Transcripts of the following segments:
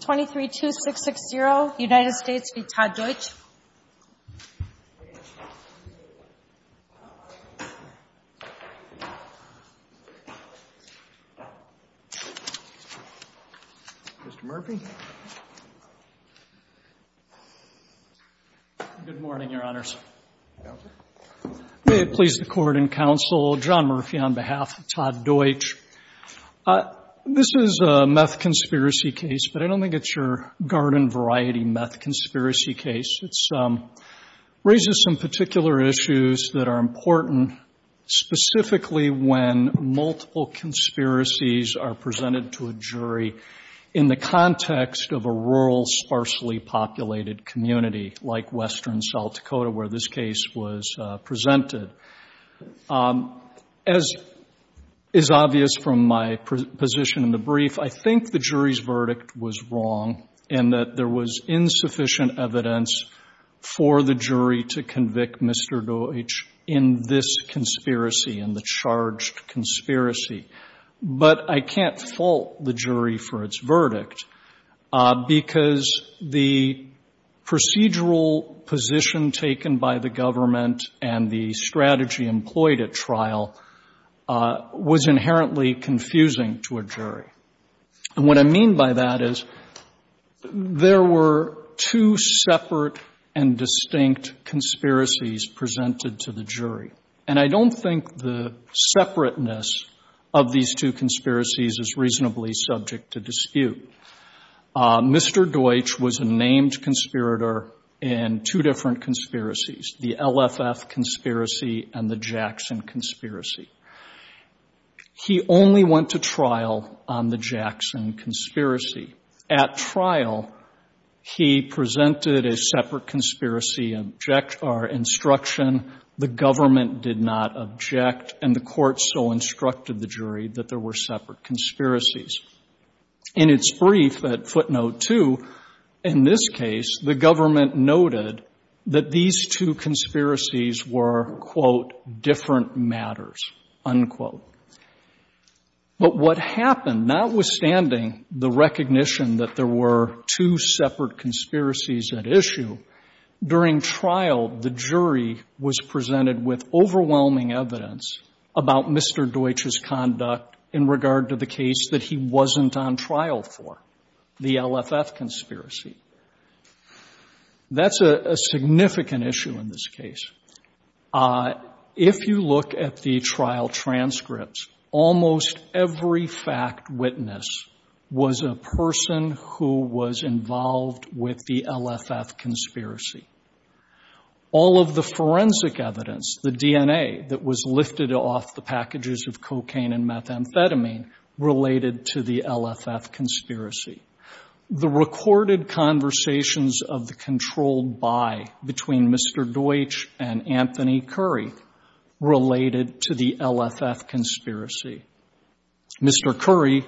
23-2-6-6-0, United States v. Todd Deutsch. Mr. Murphy. Good morning, Your Honors. May it please the Court and Counsel, John Murphy on behalf of Todd Deutsch. This is a meth conspiracy case, but I don't think it's your garden variety meth conspiracy case. It raises some particular issues that are important, specifically when multiple conspiracies are presented to a jury in the context of a rural, sparsely populated community like western South Dakota where this case was presented. As is obvious from my position in the brief, I think the jury's verdict was wrong in that there was insufficient evidence for the jury to convict Mr. Deutsch in this conspiracy, in the charged conspiracy. But I can't fault the jury for its verdict because the procedural position taken by the government and the strategy employed at trial was inherently confusing to a jury. And what I mean by that is there were two separate and distinct conspiracies presented to the jury. And I don't think the separateness of these two conspiracies is reasonably subject to dispute. Mr. Deutsch was a named conspirator in two different conspiracies, the LFF conspiracy and the Jackson conspiracy. He only went to trial on the Jackson conspiracy. At trial, he presented a separate conspiracy instruction. The government did not object, and the court so instructed the jury that there were separate conspiracies. In its brief at footnote 2, in this case, the government noted that these two conspiracies were, quote, different matters, unquote. But what happened, notwithstanding the recognition that there were two separate conspiracies at issue, during trial, the jury was presented with overwhelming evidence about Mr. Deutsch's conduct in regard to the case that he wasn't on trial for, the LFF conspiracy. That's a significant issue in this case. If you look at the trial transcripts, almost every fact witness was a person who was involved with the LFF conspiracy. All of the forensic evidence, the DNA that was lifted off the packages of cocaine and methamphetamine related to the LFF conspiracy. The recorded conversations of the controlled buy between Mr. Deutsch and Anthony Curry related to the LFF conspiracy. Mr. Curry,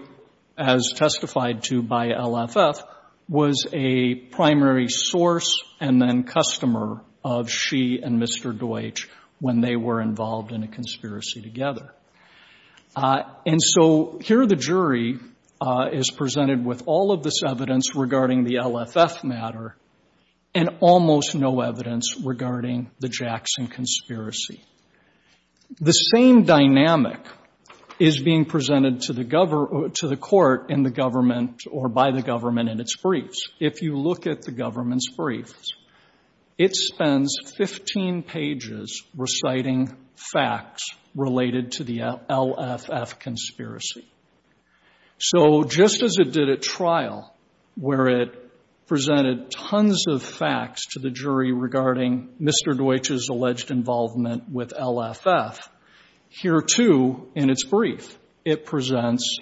as testified to by LFF, was a primary source and then customer of she and Mr. Deutsch when they were involved in a conspiracy together. And so here the LFF matter and almost no evidence regarding the Jackson conspiracy. The same dynamic is being presented to the court in the government or by the government in its briefs. If you look at the government's briefs, it spends 15 pages reciting facts related to the LFF conspiracy. So just as it did at trial where it presented tons of facts to the jury regarding Mr. Deutsch's alleged involvement with LFF, here too in its brief it presents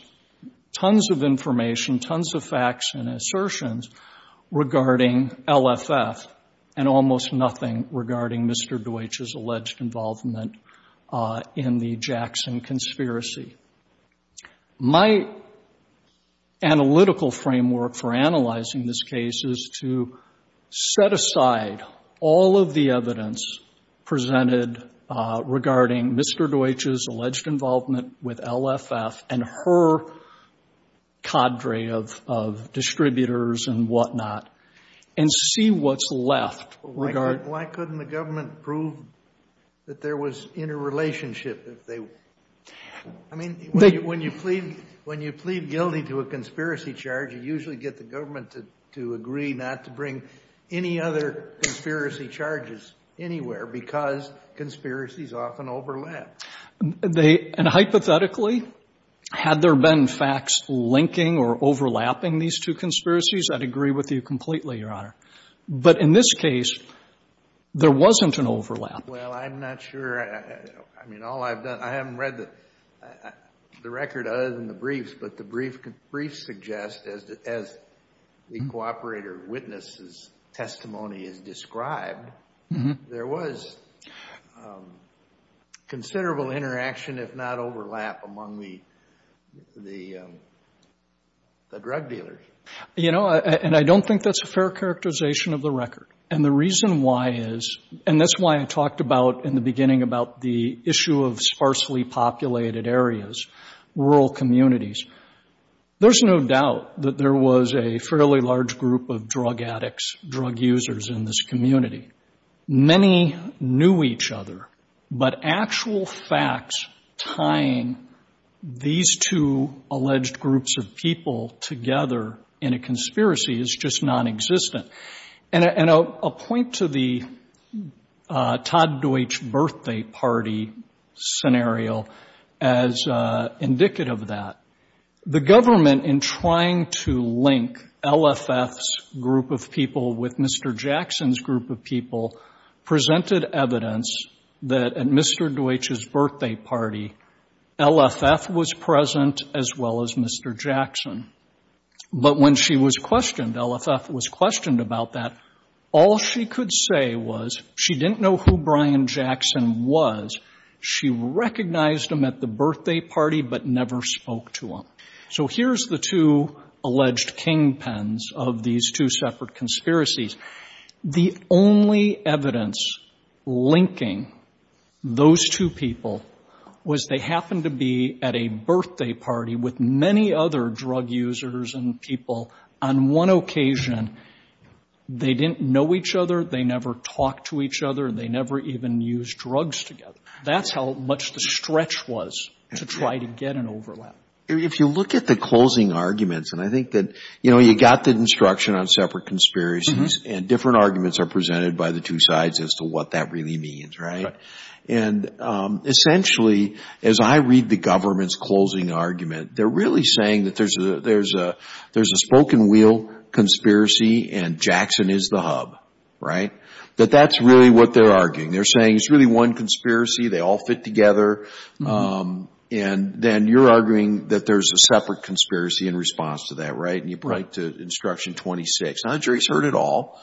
tons of information, tons of facts and assertions regarding LFF and almost nothing regarding Mr. Deutsch's alleged involvement in the Jackson conspiracy. My analytical framework for analyzing this case is to set aside all of the evidence presented regarding Mr. Deutsch's alleged involvement with LFF and her cadre of distributors and whatnot and see what's left. Why couldn't the government prove that there was interrelationship? I mean, when you plead guilty to a conspiracy charge, you usually get the government to agree not to bring any other conspiracy charges anywhere because conspiracies often overlap. And hypothetically, had there been facts linking or overlapping these two conspiracies, I'd agree with you completely, Your Honor. But in this case, there wasn't an overlap. Well, I'm not sure. I mean, all I've done, I haven't read the record other than the briefs, but the briefs suggest as the cooperator witness's testimony has described, there was considerable interaction, if not overlap, among the drug dealers. You know, and I don't think that's a fair characterization of the record. And the reason why is, and that's why I talked about in the beginning about the issue of sparsely populated areas, rural communities. There's no doubt that there was a fairly large group of drug users in this community. Many knew each other, but actual facts tying these two alleged groups of people together in a conspiracy is just nonexistent. And I'll point to the Todd Deutsch birthday party scenario as indicative of that. The group of people presented evidence that at Mr. Deutsch's birthday party, LFF was present as well as Mr. Jackson. But when she was questioned, LFF was questioned about that, all she could say was she didn't know who Brian Jackson was. She recognized him at the birthday party, but never spoke to him. So here's the two alleged kingpins of these two separate conspiracies. The only evidence linking those two people was they happened to be at a birthday party with many other drug users and people on one occasion. They didn't know each other. They never talked to each other. They never even used drugs together. That's how much the stretch was to try to get an overlap. If you look at the closing arguments, and I think that you got the instruction on separate conspiracies and different arguments are presented by the two sides as to what that really means. And essentially, as I read the government's closing argument, they're really saying that there's a spoken wheel conspiracy and Jackson is the hub. That that's really what they're arguing. They're saying it's really one conspiracy. They all fit together. And then you're arguing that there's a separate conspiracy in response to that, right? And you point to instruction 26. Not that the jury's heard it all.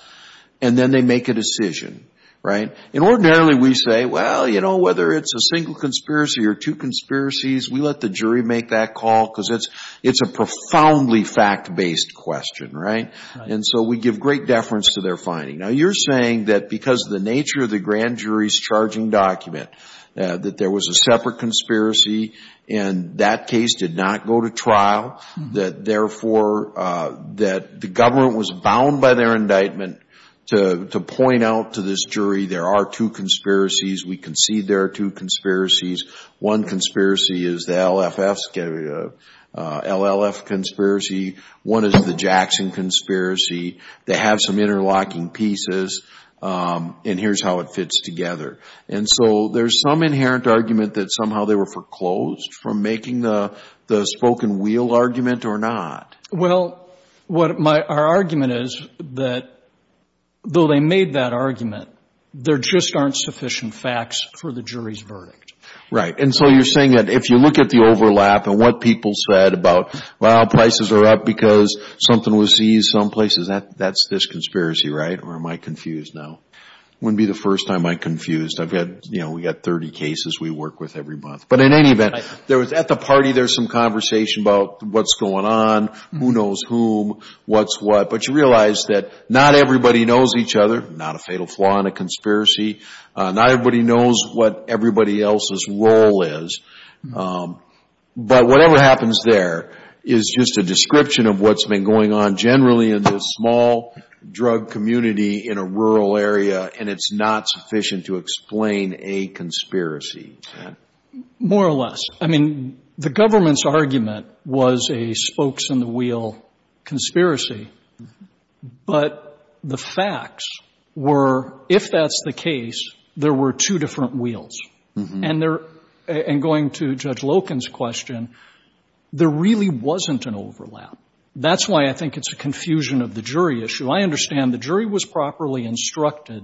And then they make a decision, right? And ordinarily we say, well, you know, whether it's a single conspiracy or two conspiracies, we let the jury make that call because it's a profoundly fact-based question, right? And so we give great deference to their finding. Now you're saying that because of the nature of the grand jury's charging document, that there was a separate conspiracy and that case did not go to trial, that therefore, that the government was bound by their indictment to point out to this jury, there are two conspiracies. We concede there are two conspiracies. One conspiracy is the LLF conspiracy. One is the Jackson conspiracy. They have some interlocking pieces and here's how it fits together. And so there's some inherent argument that somehow they were foreclosed from making the spoken wheel argument or not. Well, our argument is that though they made that argument, there just aren't sufficient facts for the jury's verdict. Right. And so you're saying that if you look at the overlap and what people said about, well, prices are up because something was seized some places, that's this conspiracy, right? Or am I confused now? It wouldn't be the first time I'm confused. I've got, you know, we've got 30 cases we work with every month. But in any event, there was at the party, there's some conversation about what's going on, who knows whom, what's what. But you realize that not everybody knows each other. Not a fatal flaw in a conspiracy. Not everybody knows what everybody else's role is. But whatever happens there is just a description of what's been going on generally in the small drug community in a rural area, and it's not sufficient to explain a conspiracy. More or less. I mean, the government's argument was a spokes-on-the-wheel conspiracy. But the facts were, if that's the case, there were two different wheels. And going to Judge Loken's question, there really wasn't an overlap. That's why I think it's a confusion of the jury issue. I understand the jury was properly instructed,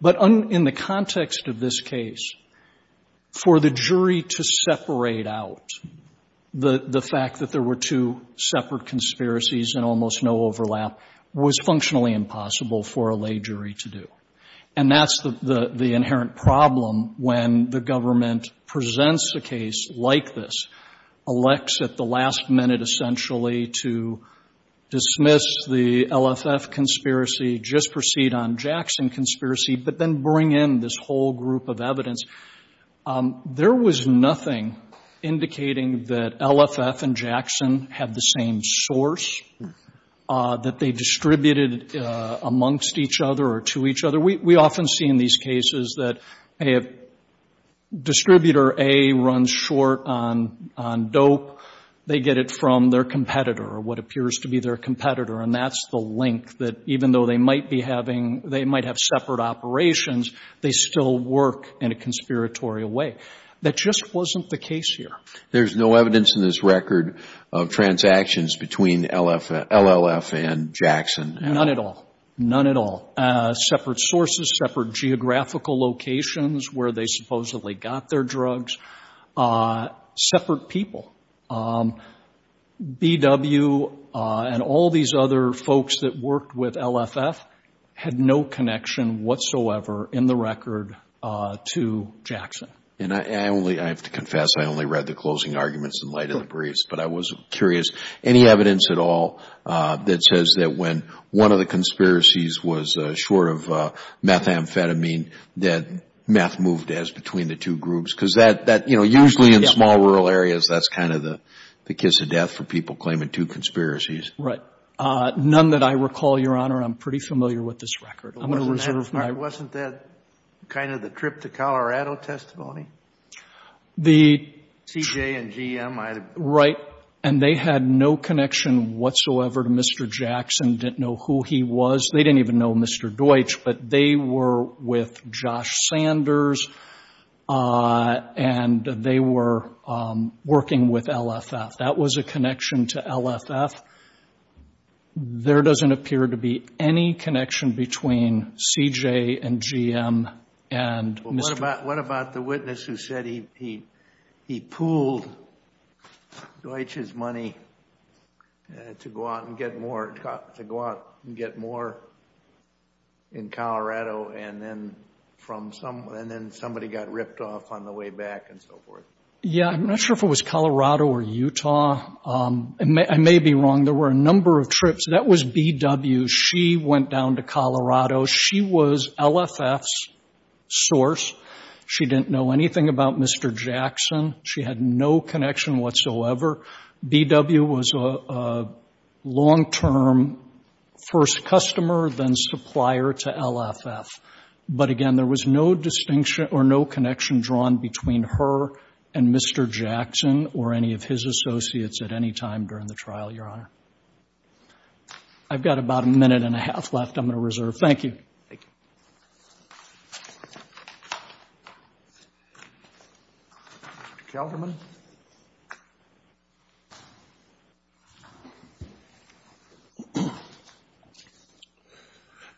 but in the context of this case, for the jury to separate out the fact that there were two separate conspiracies and almost no overlap was functionally impossible for a lay jury to do. And that's the inherent problem when the government presents a case like this, elects at the last minute essentially to dismiss the LFF conspiracy, just proceed on Jackson conspiracy, but then bring in this whole group of evidence. There was nothing indicating that LFF and Jackson had the same source, that they distributed amongst each other or to each other. We often see in these cases that if Distributor A runs short on dope, they get it from their competitor or what appears to be their competitor, and that's the link that even though they might have separate operations, they still work in a conspiratorial way. That just wasn't the case here. There's no evidence in this record of transactions between LLF and Jackson. None at all. None at all. Separate sources, separate geographical locations where they supposedly got their drugs, separate people. BW and all these other folks that worked with LFF had no connection whatsoever in the record to Jackson. And I only, I have to confess, I only read the closing arguments in light of the briefs, but I was curious, any evidence at all that says that when one of the conspiracies was short of methamphetamine, that meth moved as between the two groups? Because that, you know, usually in small rural areas, that's kind of the kiss of death for people claiming two conspiracies. Right. None that I recall, Your Honor. I'm pretty familiar with this record. Wasn't that kind of the trip to Colorado testimony? The... C.J. and G.M. Right. And they had no connection whatsoever to Mr. Jackson, didn't know who he was. They didn't even know Mr. Deutsch, but they were with Josh Sanders, and they were working with LFF. That was a connection to LFF. There doesn't appear to be any connection between C.J. and G.M. and Mr. Jackson. What about the witness who said he pooled Deutsch's money to go out and get more, in Colorado, and then somebody got ripped off on the way back, and so forth? Yeah, I'm not sure if it was Colorado or Utah. I may be wrong. There were a number of trips. That was B.W. She went down to Colorado. She was LFF's source. She didn't know anything about Mr. Jackson. She had no connection whatsoever. B.W. was a long-term first customer, then supplier to LFF. But again, there was no distinction or no connection drawn between her and Mr. Jackson or any of his associates at any time during the trial, Your Honor. I've got about a minute and a half left I'm going to reserve. Thank you. Thank you. Mr. Kelderman.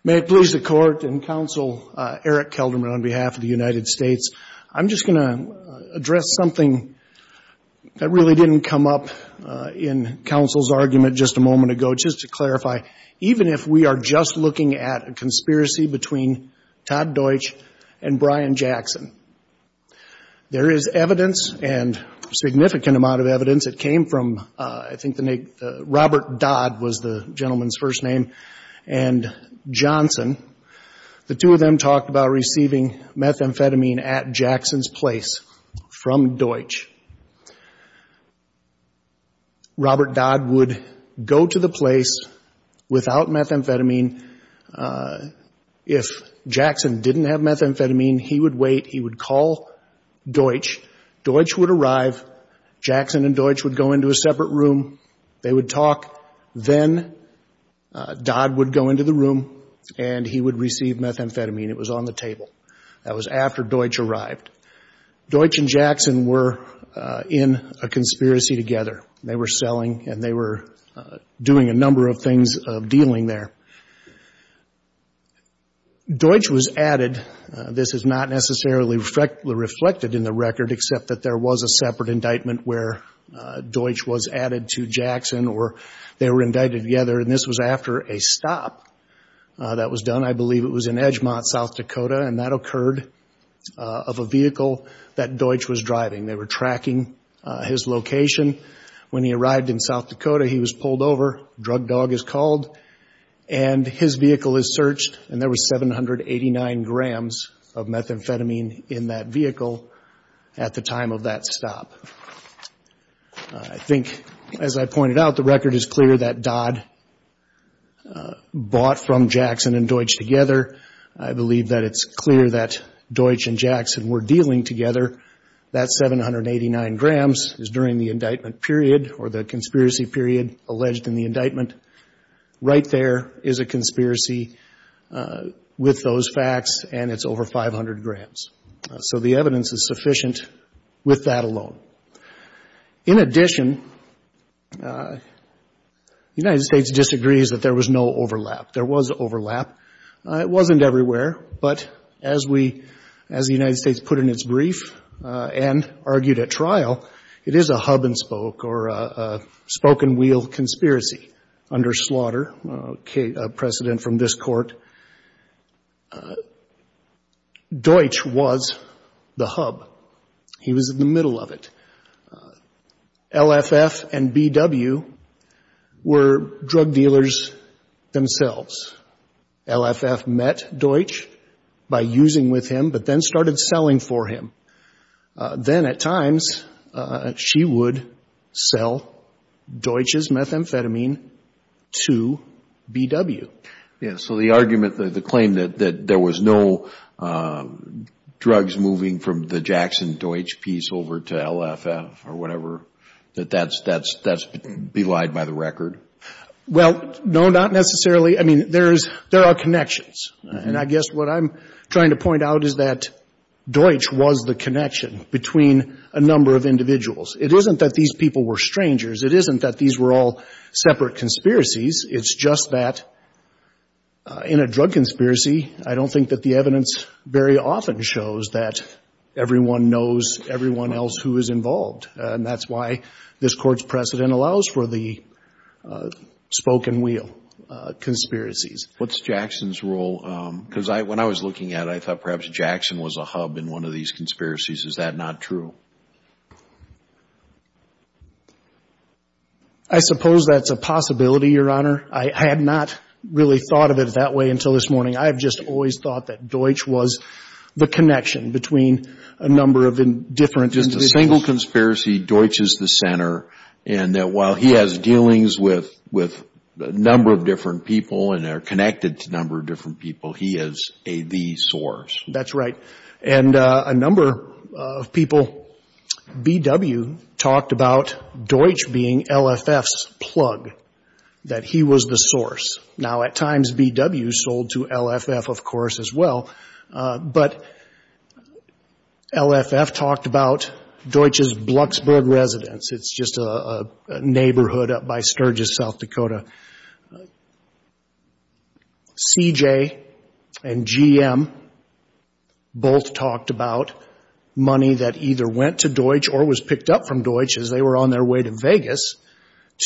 May it please the Court and Counsel Eric Kelderman on behalf of the United States, I'm just going to address something that really didn't come up in counsel's argument just a moment ago, which is to clarify, even if we are just looking at a conspiracy between Todd Deutsch and Brian Jackson, there is evidence and significant amount of evidence that came from, I think the name, Robert Dodd was the gentleman's first name, and Johnson. The two of them talked about receiving methamphetamine at Jackson's place from Deutsch. Robert Dodd would go to the place without methamphetamine. If Jackson didn't have methamphetamine, he would wait. He would call Deutsch. Deutsch would arrive. Jackson and Deutsch would go into a separate room. They would talk. Then Dodd would go into the room and he would receive methamphetamine. It was on the table. That was after Deutsch arrived. Deutsch and Jackson were in a conspiracy together. They were selling and they were doing a number of things of dealing there. Deutsch was added. This is not necessarily reflected in the record, except that there was a separate indictment where Deutsch was added to Jackson or they were indicted together, and this was after a stop that was done. I believe it was in Edgemont, South Dakota, and that occurred of a vehicle that Deutsch was driving. They were tracking his location. When he arrived in South Dakota, he was pulled over, drug dog is called, and his vehicle is searched, and there was 789 grams of methamphetamine in that vehicle at the time of that stop. I think, as I pointed out, the record is clear that Dodd bought from Jackson and Deutsch together. I believe that it's clear that Deutsch and Jackson were dealing together. That 789 grams is during the indictment period or the conspiracy period alleged in the indictment. Right there is a conspiracy with those facts, and it's over 500 grams. So the evidence is sufficient with that alone. In addition, the United States disagrees that there was no overlap. There was overlap. It wasn't everywhere, but as we, as the United States put in its brief and argued at trial, it is a hub-and-spoke or a spoke-and-wheel conspiracy under slaughter precedent from this Court. Deutsch was the hub. He was in the middle of it. LFF and BW were drug dealers themselves. LFF met Deutsch by using with him but then started selling for him. Then, at times, she would sell Deutsch's methamphetamine to BW. So the argument, the claim that there was no drugs moving from the Jackson-Deutsch piece over to LFF or whatever, that that's belied by the record? Well, no, not necessarily. I mean, there are connections. And I guess what I'm trying to point out is that Deutsch was the connection between a number of individuals. It isn't that these people were strangers. It isn't that these were all separate conspiracies. It's just that in a drug conspiracy, I don't think that the evidence very often shows that everyone knows everyone else who is involved. And that's why this Court's precedent allows for the spoke-and-wheel conspiracies. What's Jackson's role? Because when I was looking at it, I thought perhaps Jackson was a hub in one of these conspiracies. Is that not true? I suppose that's a possibility, Your Honor. I had not really thought of it that way until this morning. I have just always thought that Deutsch was the connection between a number of different individuals. Just a single conspiracy, Deutsch is the center, and that while he has dealings with a number of different people and they're connected to a number of different people, he is the source. That's right. And a number of people, B.W., talked about Deutsch being LFF's plug, that he was the source. Now, at times, B.W. sold to LFF, of course, as well. But LFF talked about Deutsch's Blucksburg residence. It's just a neighborhood up by Sturgis, South Dakota. C.J. and G.M. both talked about money that either went to Deutsch or was picked up from Deutsch as they were on their way to Vegas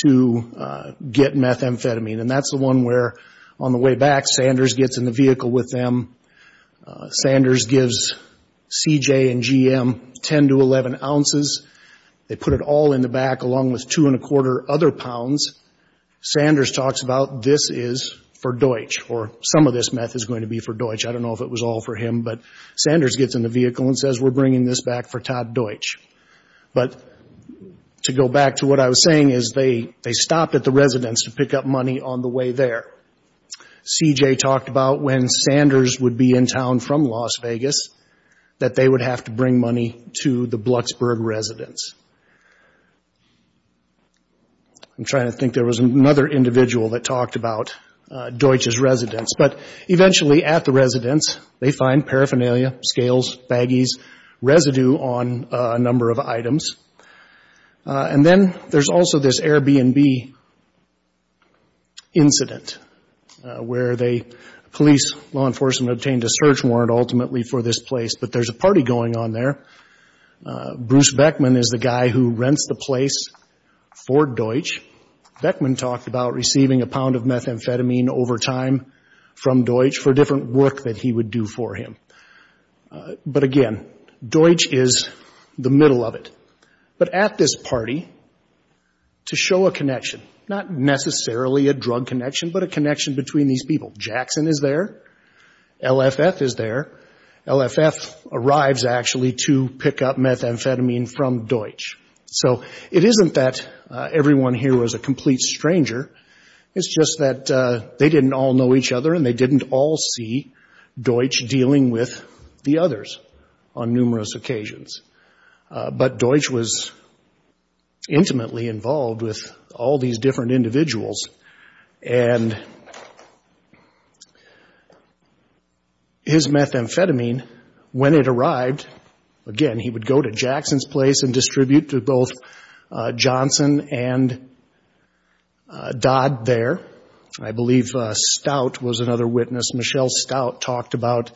to get methamphetamine. And that's the one where, on the way back, Sanders gets in the vehicle with them. Sanders gives C.J. and G.M. 10 to 11 ounces. They put it all in the back, along with two-and-a-quarter other pounds. Sanders talks about this is for Deutsch, or some of this meth is going to be for Deutsch. I don't know if it was all for him, but Sanders gets in the vehicle and says, we're bringing this back for Todd Deutsch. But to go back to what I was saying is they stopped at the residence to pick up money on the way there. C.J. talked about when Sanders would be in town from Las Vegas, that they would have to bring money to the Blucksburg residence. I'm trying to think. There was another individual that talked about Deutsch's residence. But eventually, at the residence, they find paraphernalia, scales, baggies, residue on a number of items. And then there's also this Airbnb incident where police, law enforcement, obtained a search warrant ultimately for this place. But there's a party going on there. Bruce Beckman is the guy who rents the place for Deutsch. Beckman talked about receiving a pound of methamphetamine over time from Deutsch for different work that he would do for him. But again, Deutsch is the middle of it. But at this party, to show a connection, not necessarily a drug connection, but a connection between these people, Jackson is there. LFF is there. LFF arrives, actually, to pick up methamphetamine from Deutsch. So it isn't that everyone here was a complete stranger. It's just that they didn't all know each other and they didn't all see Deutsch dealing with the others on numerous occasions. But Deutsch was intimately involved with all these different individuals. And his methamphetamine, when it arrived, again, he would go to Jackson's place and distribute to both Johnson and Dodd there. I believe Stout was another witness. Michelle Stout talked about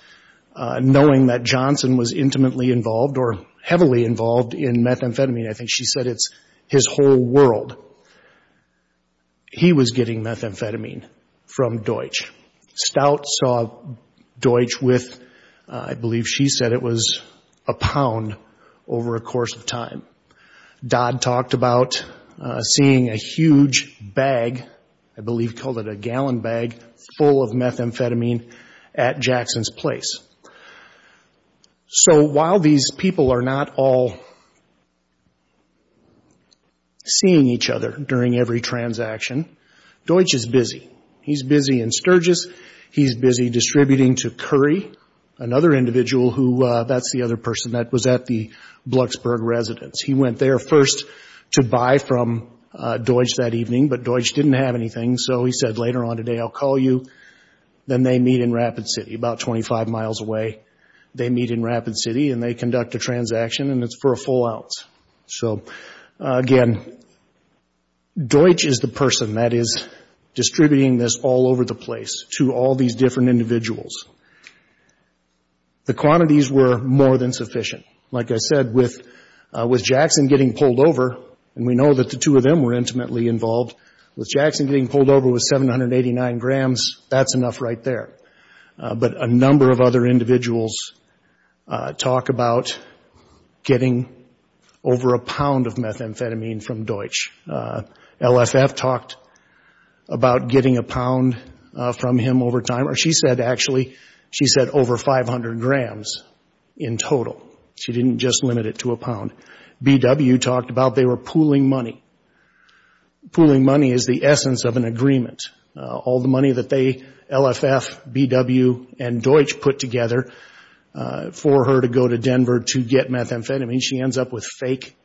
knowing that Johnson was intimately involved or heavily involved in methamphetamine. I think she said it's his whole world. He was getting methamphetamine from Deutsch. Stout saw Deutsch with, I believe she said it was, a pound over a course of time. Dodd talked about seeing a huge bag, I believe he called it a gallon bag, full of methamphetamine at Jackson's place. So while these people are not all seeing each other during every transaction, Deutsch is busy. He's busy in Sturgis. He's busy distributing to Curry, another individual who, that's the other person that was at the Blucksburg residence. He went there first to buy from Deutsch that evening, but Deutsch didn't have anything. So he said, later on today I'll call you. Then they meet in Rapid City, about 25 miles away. They meet in Rapid City and they conduct a transaction, and it's for a full ounce. So again, Deutsch is the person that is distributing this all over the place to all these different individuals. The quantities were more than sufficient. Like I said, with Jackson getting pulled over, and we know that the two of them were intimately involved, with Jackson getting pulled over with 789 grams, that's enough right there. But a number of other individuals talk about getting over a pound of methamphetamine from Deutsch. LFF talked about getting a pound from him over time, or she said actually, she said over 500 grams in total. BW talked about they were pooling money. Pooling money is the essence of an agreement. All the money that LFF, BW, and Deutsch put together for her to go to Denver to get methamphetamine, she ends up with fake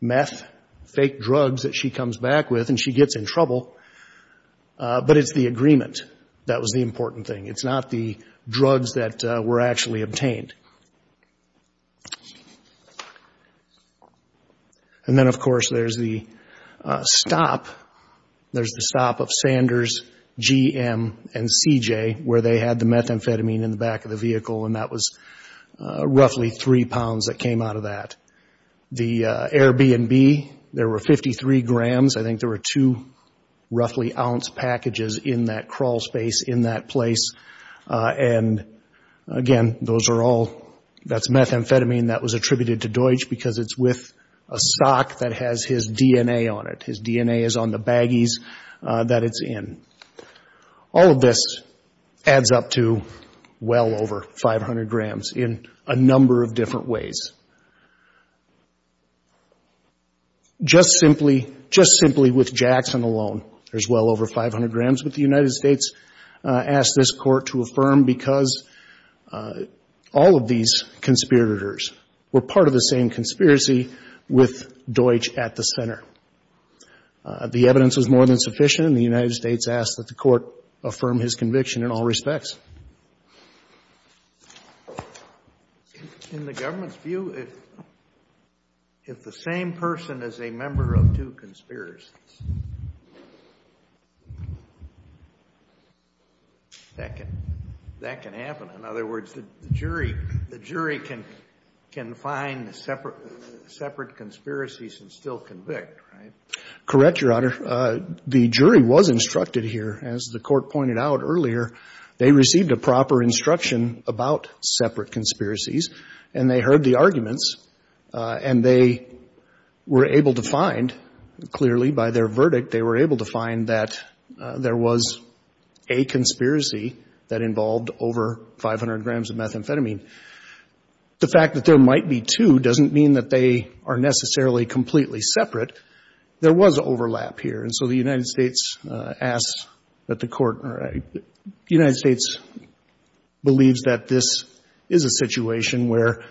meth, fake drugs that she comes back with and she gets in trouble. But it's the agreement that was the important thing. It's not the drugs that were actually obtained. And then, of course, there's the stop. There's the stop of Sanders, GM, and CJ, where they had the methamphetamine in the back of the vehicle, and that was roughly three pounds that came out of that. The Airbnb, there were 53 grams. I think there were two roughly ounce packages in that crawl space, in that place. And, again, those are all, that's methamphetamine that was attributed to Deutsch because it's with a sock that has his DNA on it. His DNA is on the baggies that it's in. All of this adds up to well over 500 grams in a number of different ways. Just simply, just simply with Jackson alone, there's well over 500 grams. But the United States asked this Court to affirm because all of these conspirators were part of the same conspiracy with Deutsch at the center. The evidence was more than sufficient, and the United States asked that the Court affirm his conviction in all respects. In the government's view, if the same person is a member of two conspiracies, that can happen. In other words, the jury can find separate conspiracies and still convict, right? Correct, Your Honor. The jury was instructed here. As the Court pointed out earlier, they received a proper instruction about separate conspiracies, and they heard the arguments, and they were able to find, clearly by their verdict, they were able to find that there was a conspiracy that involved over 500 grams of methamphetamine. The fact that there might be two doesn't mean that they are necessarily completely separate. There was overlap here. And so the United States asked that the Court or the United States believes that this is a situation where,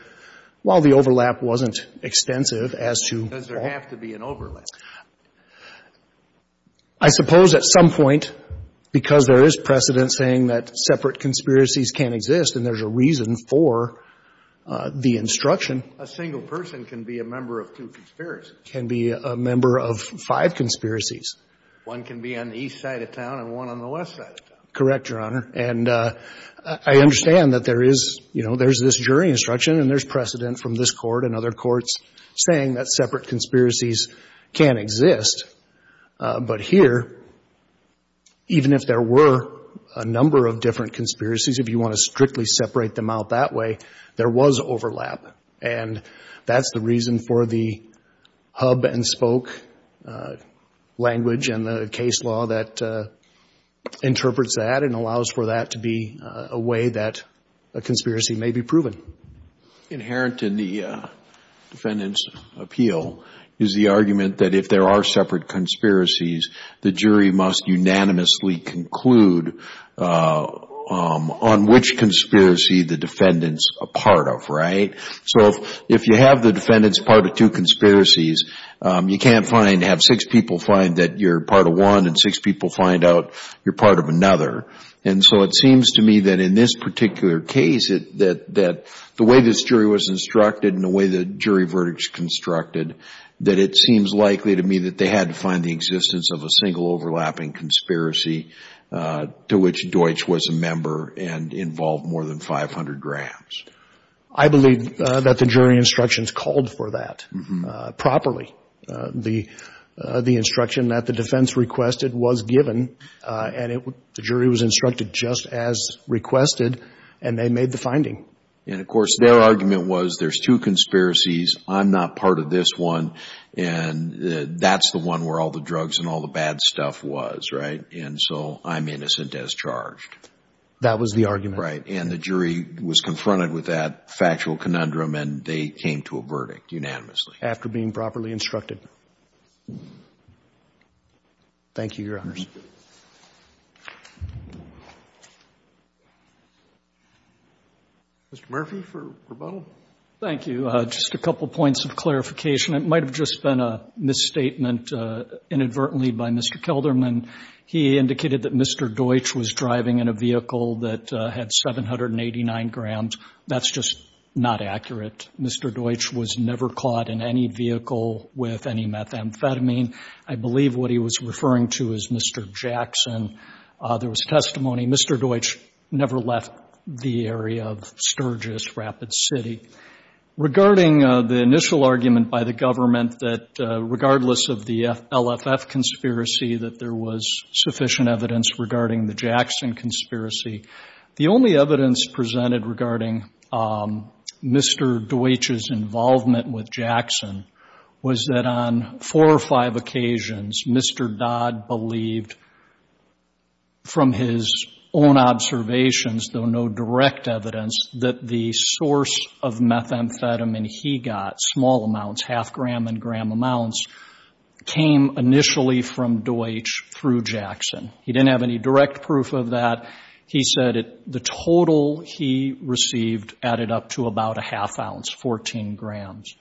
while the overlap wasn't extensive as to why. Does there have to be an overlap? I suppose at some point, because there is precedent saying that separate conspiracies can't exist and there's a reason for the instruction. A single person can be a member of two conspiracies. Can be a member of five conspiracies. One can be on the east side of town and one on the west side of town. Correct, Your Honor. And I understand that there is, you know, there's this jury instruction and there's precedent from this Court and other courts saying that separate conspiracies can't exist. But here, even if there were a number of different conspiracies, if you want to strictly separate them out that way, there was overlap. And that's the reason for the hub and spoke language and the case law that interprets that and allows for that to be a way that a conspiracy may be proven. Inherent in the defendant's appeal is the argument that if there are separate conspiracies, the jury must unanimously conclude on which conspiracy the defendant's a part of, right? So if you have the defendant's part of two conspiracies, you can't have six people find that you're part of one and six people find out you're part of another. And so it seems to me that in this particular case, that the way this jury was instructed and the way the jury verdicts constructed, that it seems likely to me that they had to find the existence of a single overlapping conspiracy to which Deutsch was a member and involved more than 500 grams. I believe that the jury instructions called for that properly. The instruction that the defense requested was given, and the jury was instructed just as requested, and they made the finding. And of course, their argument was there's two conspiracies, I'm not part of this one, and that's the one where all the drugs and all the bad stuff was, right? And so I'm innocent as charged. That was the argument. Right. And the jury was confronted with that factual conundrum, and they came to a verdict unanimously. After being properly instructed. Thank you, Your Honors. Mr. Murphy for rebuttal. Thank you. Just a couple points of clarification. It might have just been a misstatement inadvertently by Mr. Kelderman. He indicated that Mr. Deutsch was driving in a vehicle that had 789 grams. That's just not accurate. Mr. Deutsch was never caught in any vehicle with any methamphetamine. I believe what he was referring to is Mr. Jackson. There was testimony Mr. Deutsch never left the area of Sturgis, Rapid City. Regarding the initial argument by the government that regardless of the LFF conspiracy that there was sufficient evidence regarding the Jackson conspiracy, the only evidence presented regarding Mr. Deutsch's involvement with Jackson was that on four or five occasions, Mr. Dodd believed from his own observations, though no direct evidence, that the source of methamphetamine he got, small gram and gram amounts, came initially from Deutsch through Jackson. He didn't have any direct proof of that. He said the total he received added up to about a half ounce, 14 grams.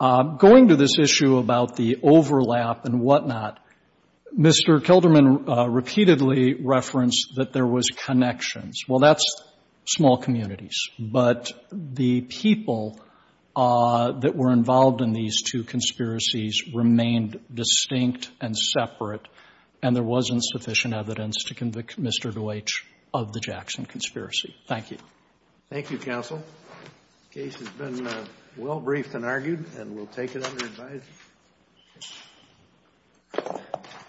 Going to this issue about the overlap and whatnot, Mr. Kelderman repeatedly referenced that there was connections. Well, that's small communities. But the people that were involved in these two conspiracies remained distinct and separate, and there wasn't sufficient evidence to convict Mr. Deutsch of the Jackson conspiracy. Thank you. Thank you, counsel. The case has been well briefed and argued, and we'll take it under advisory.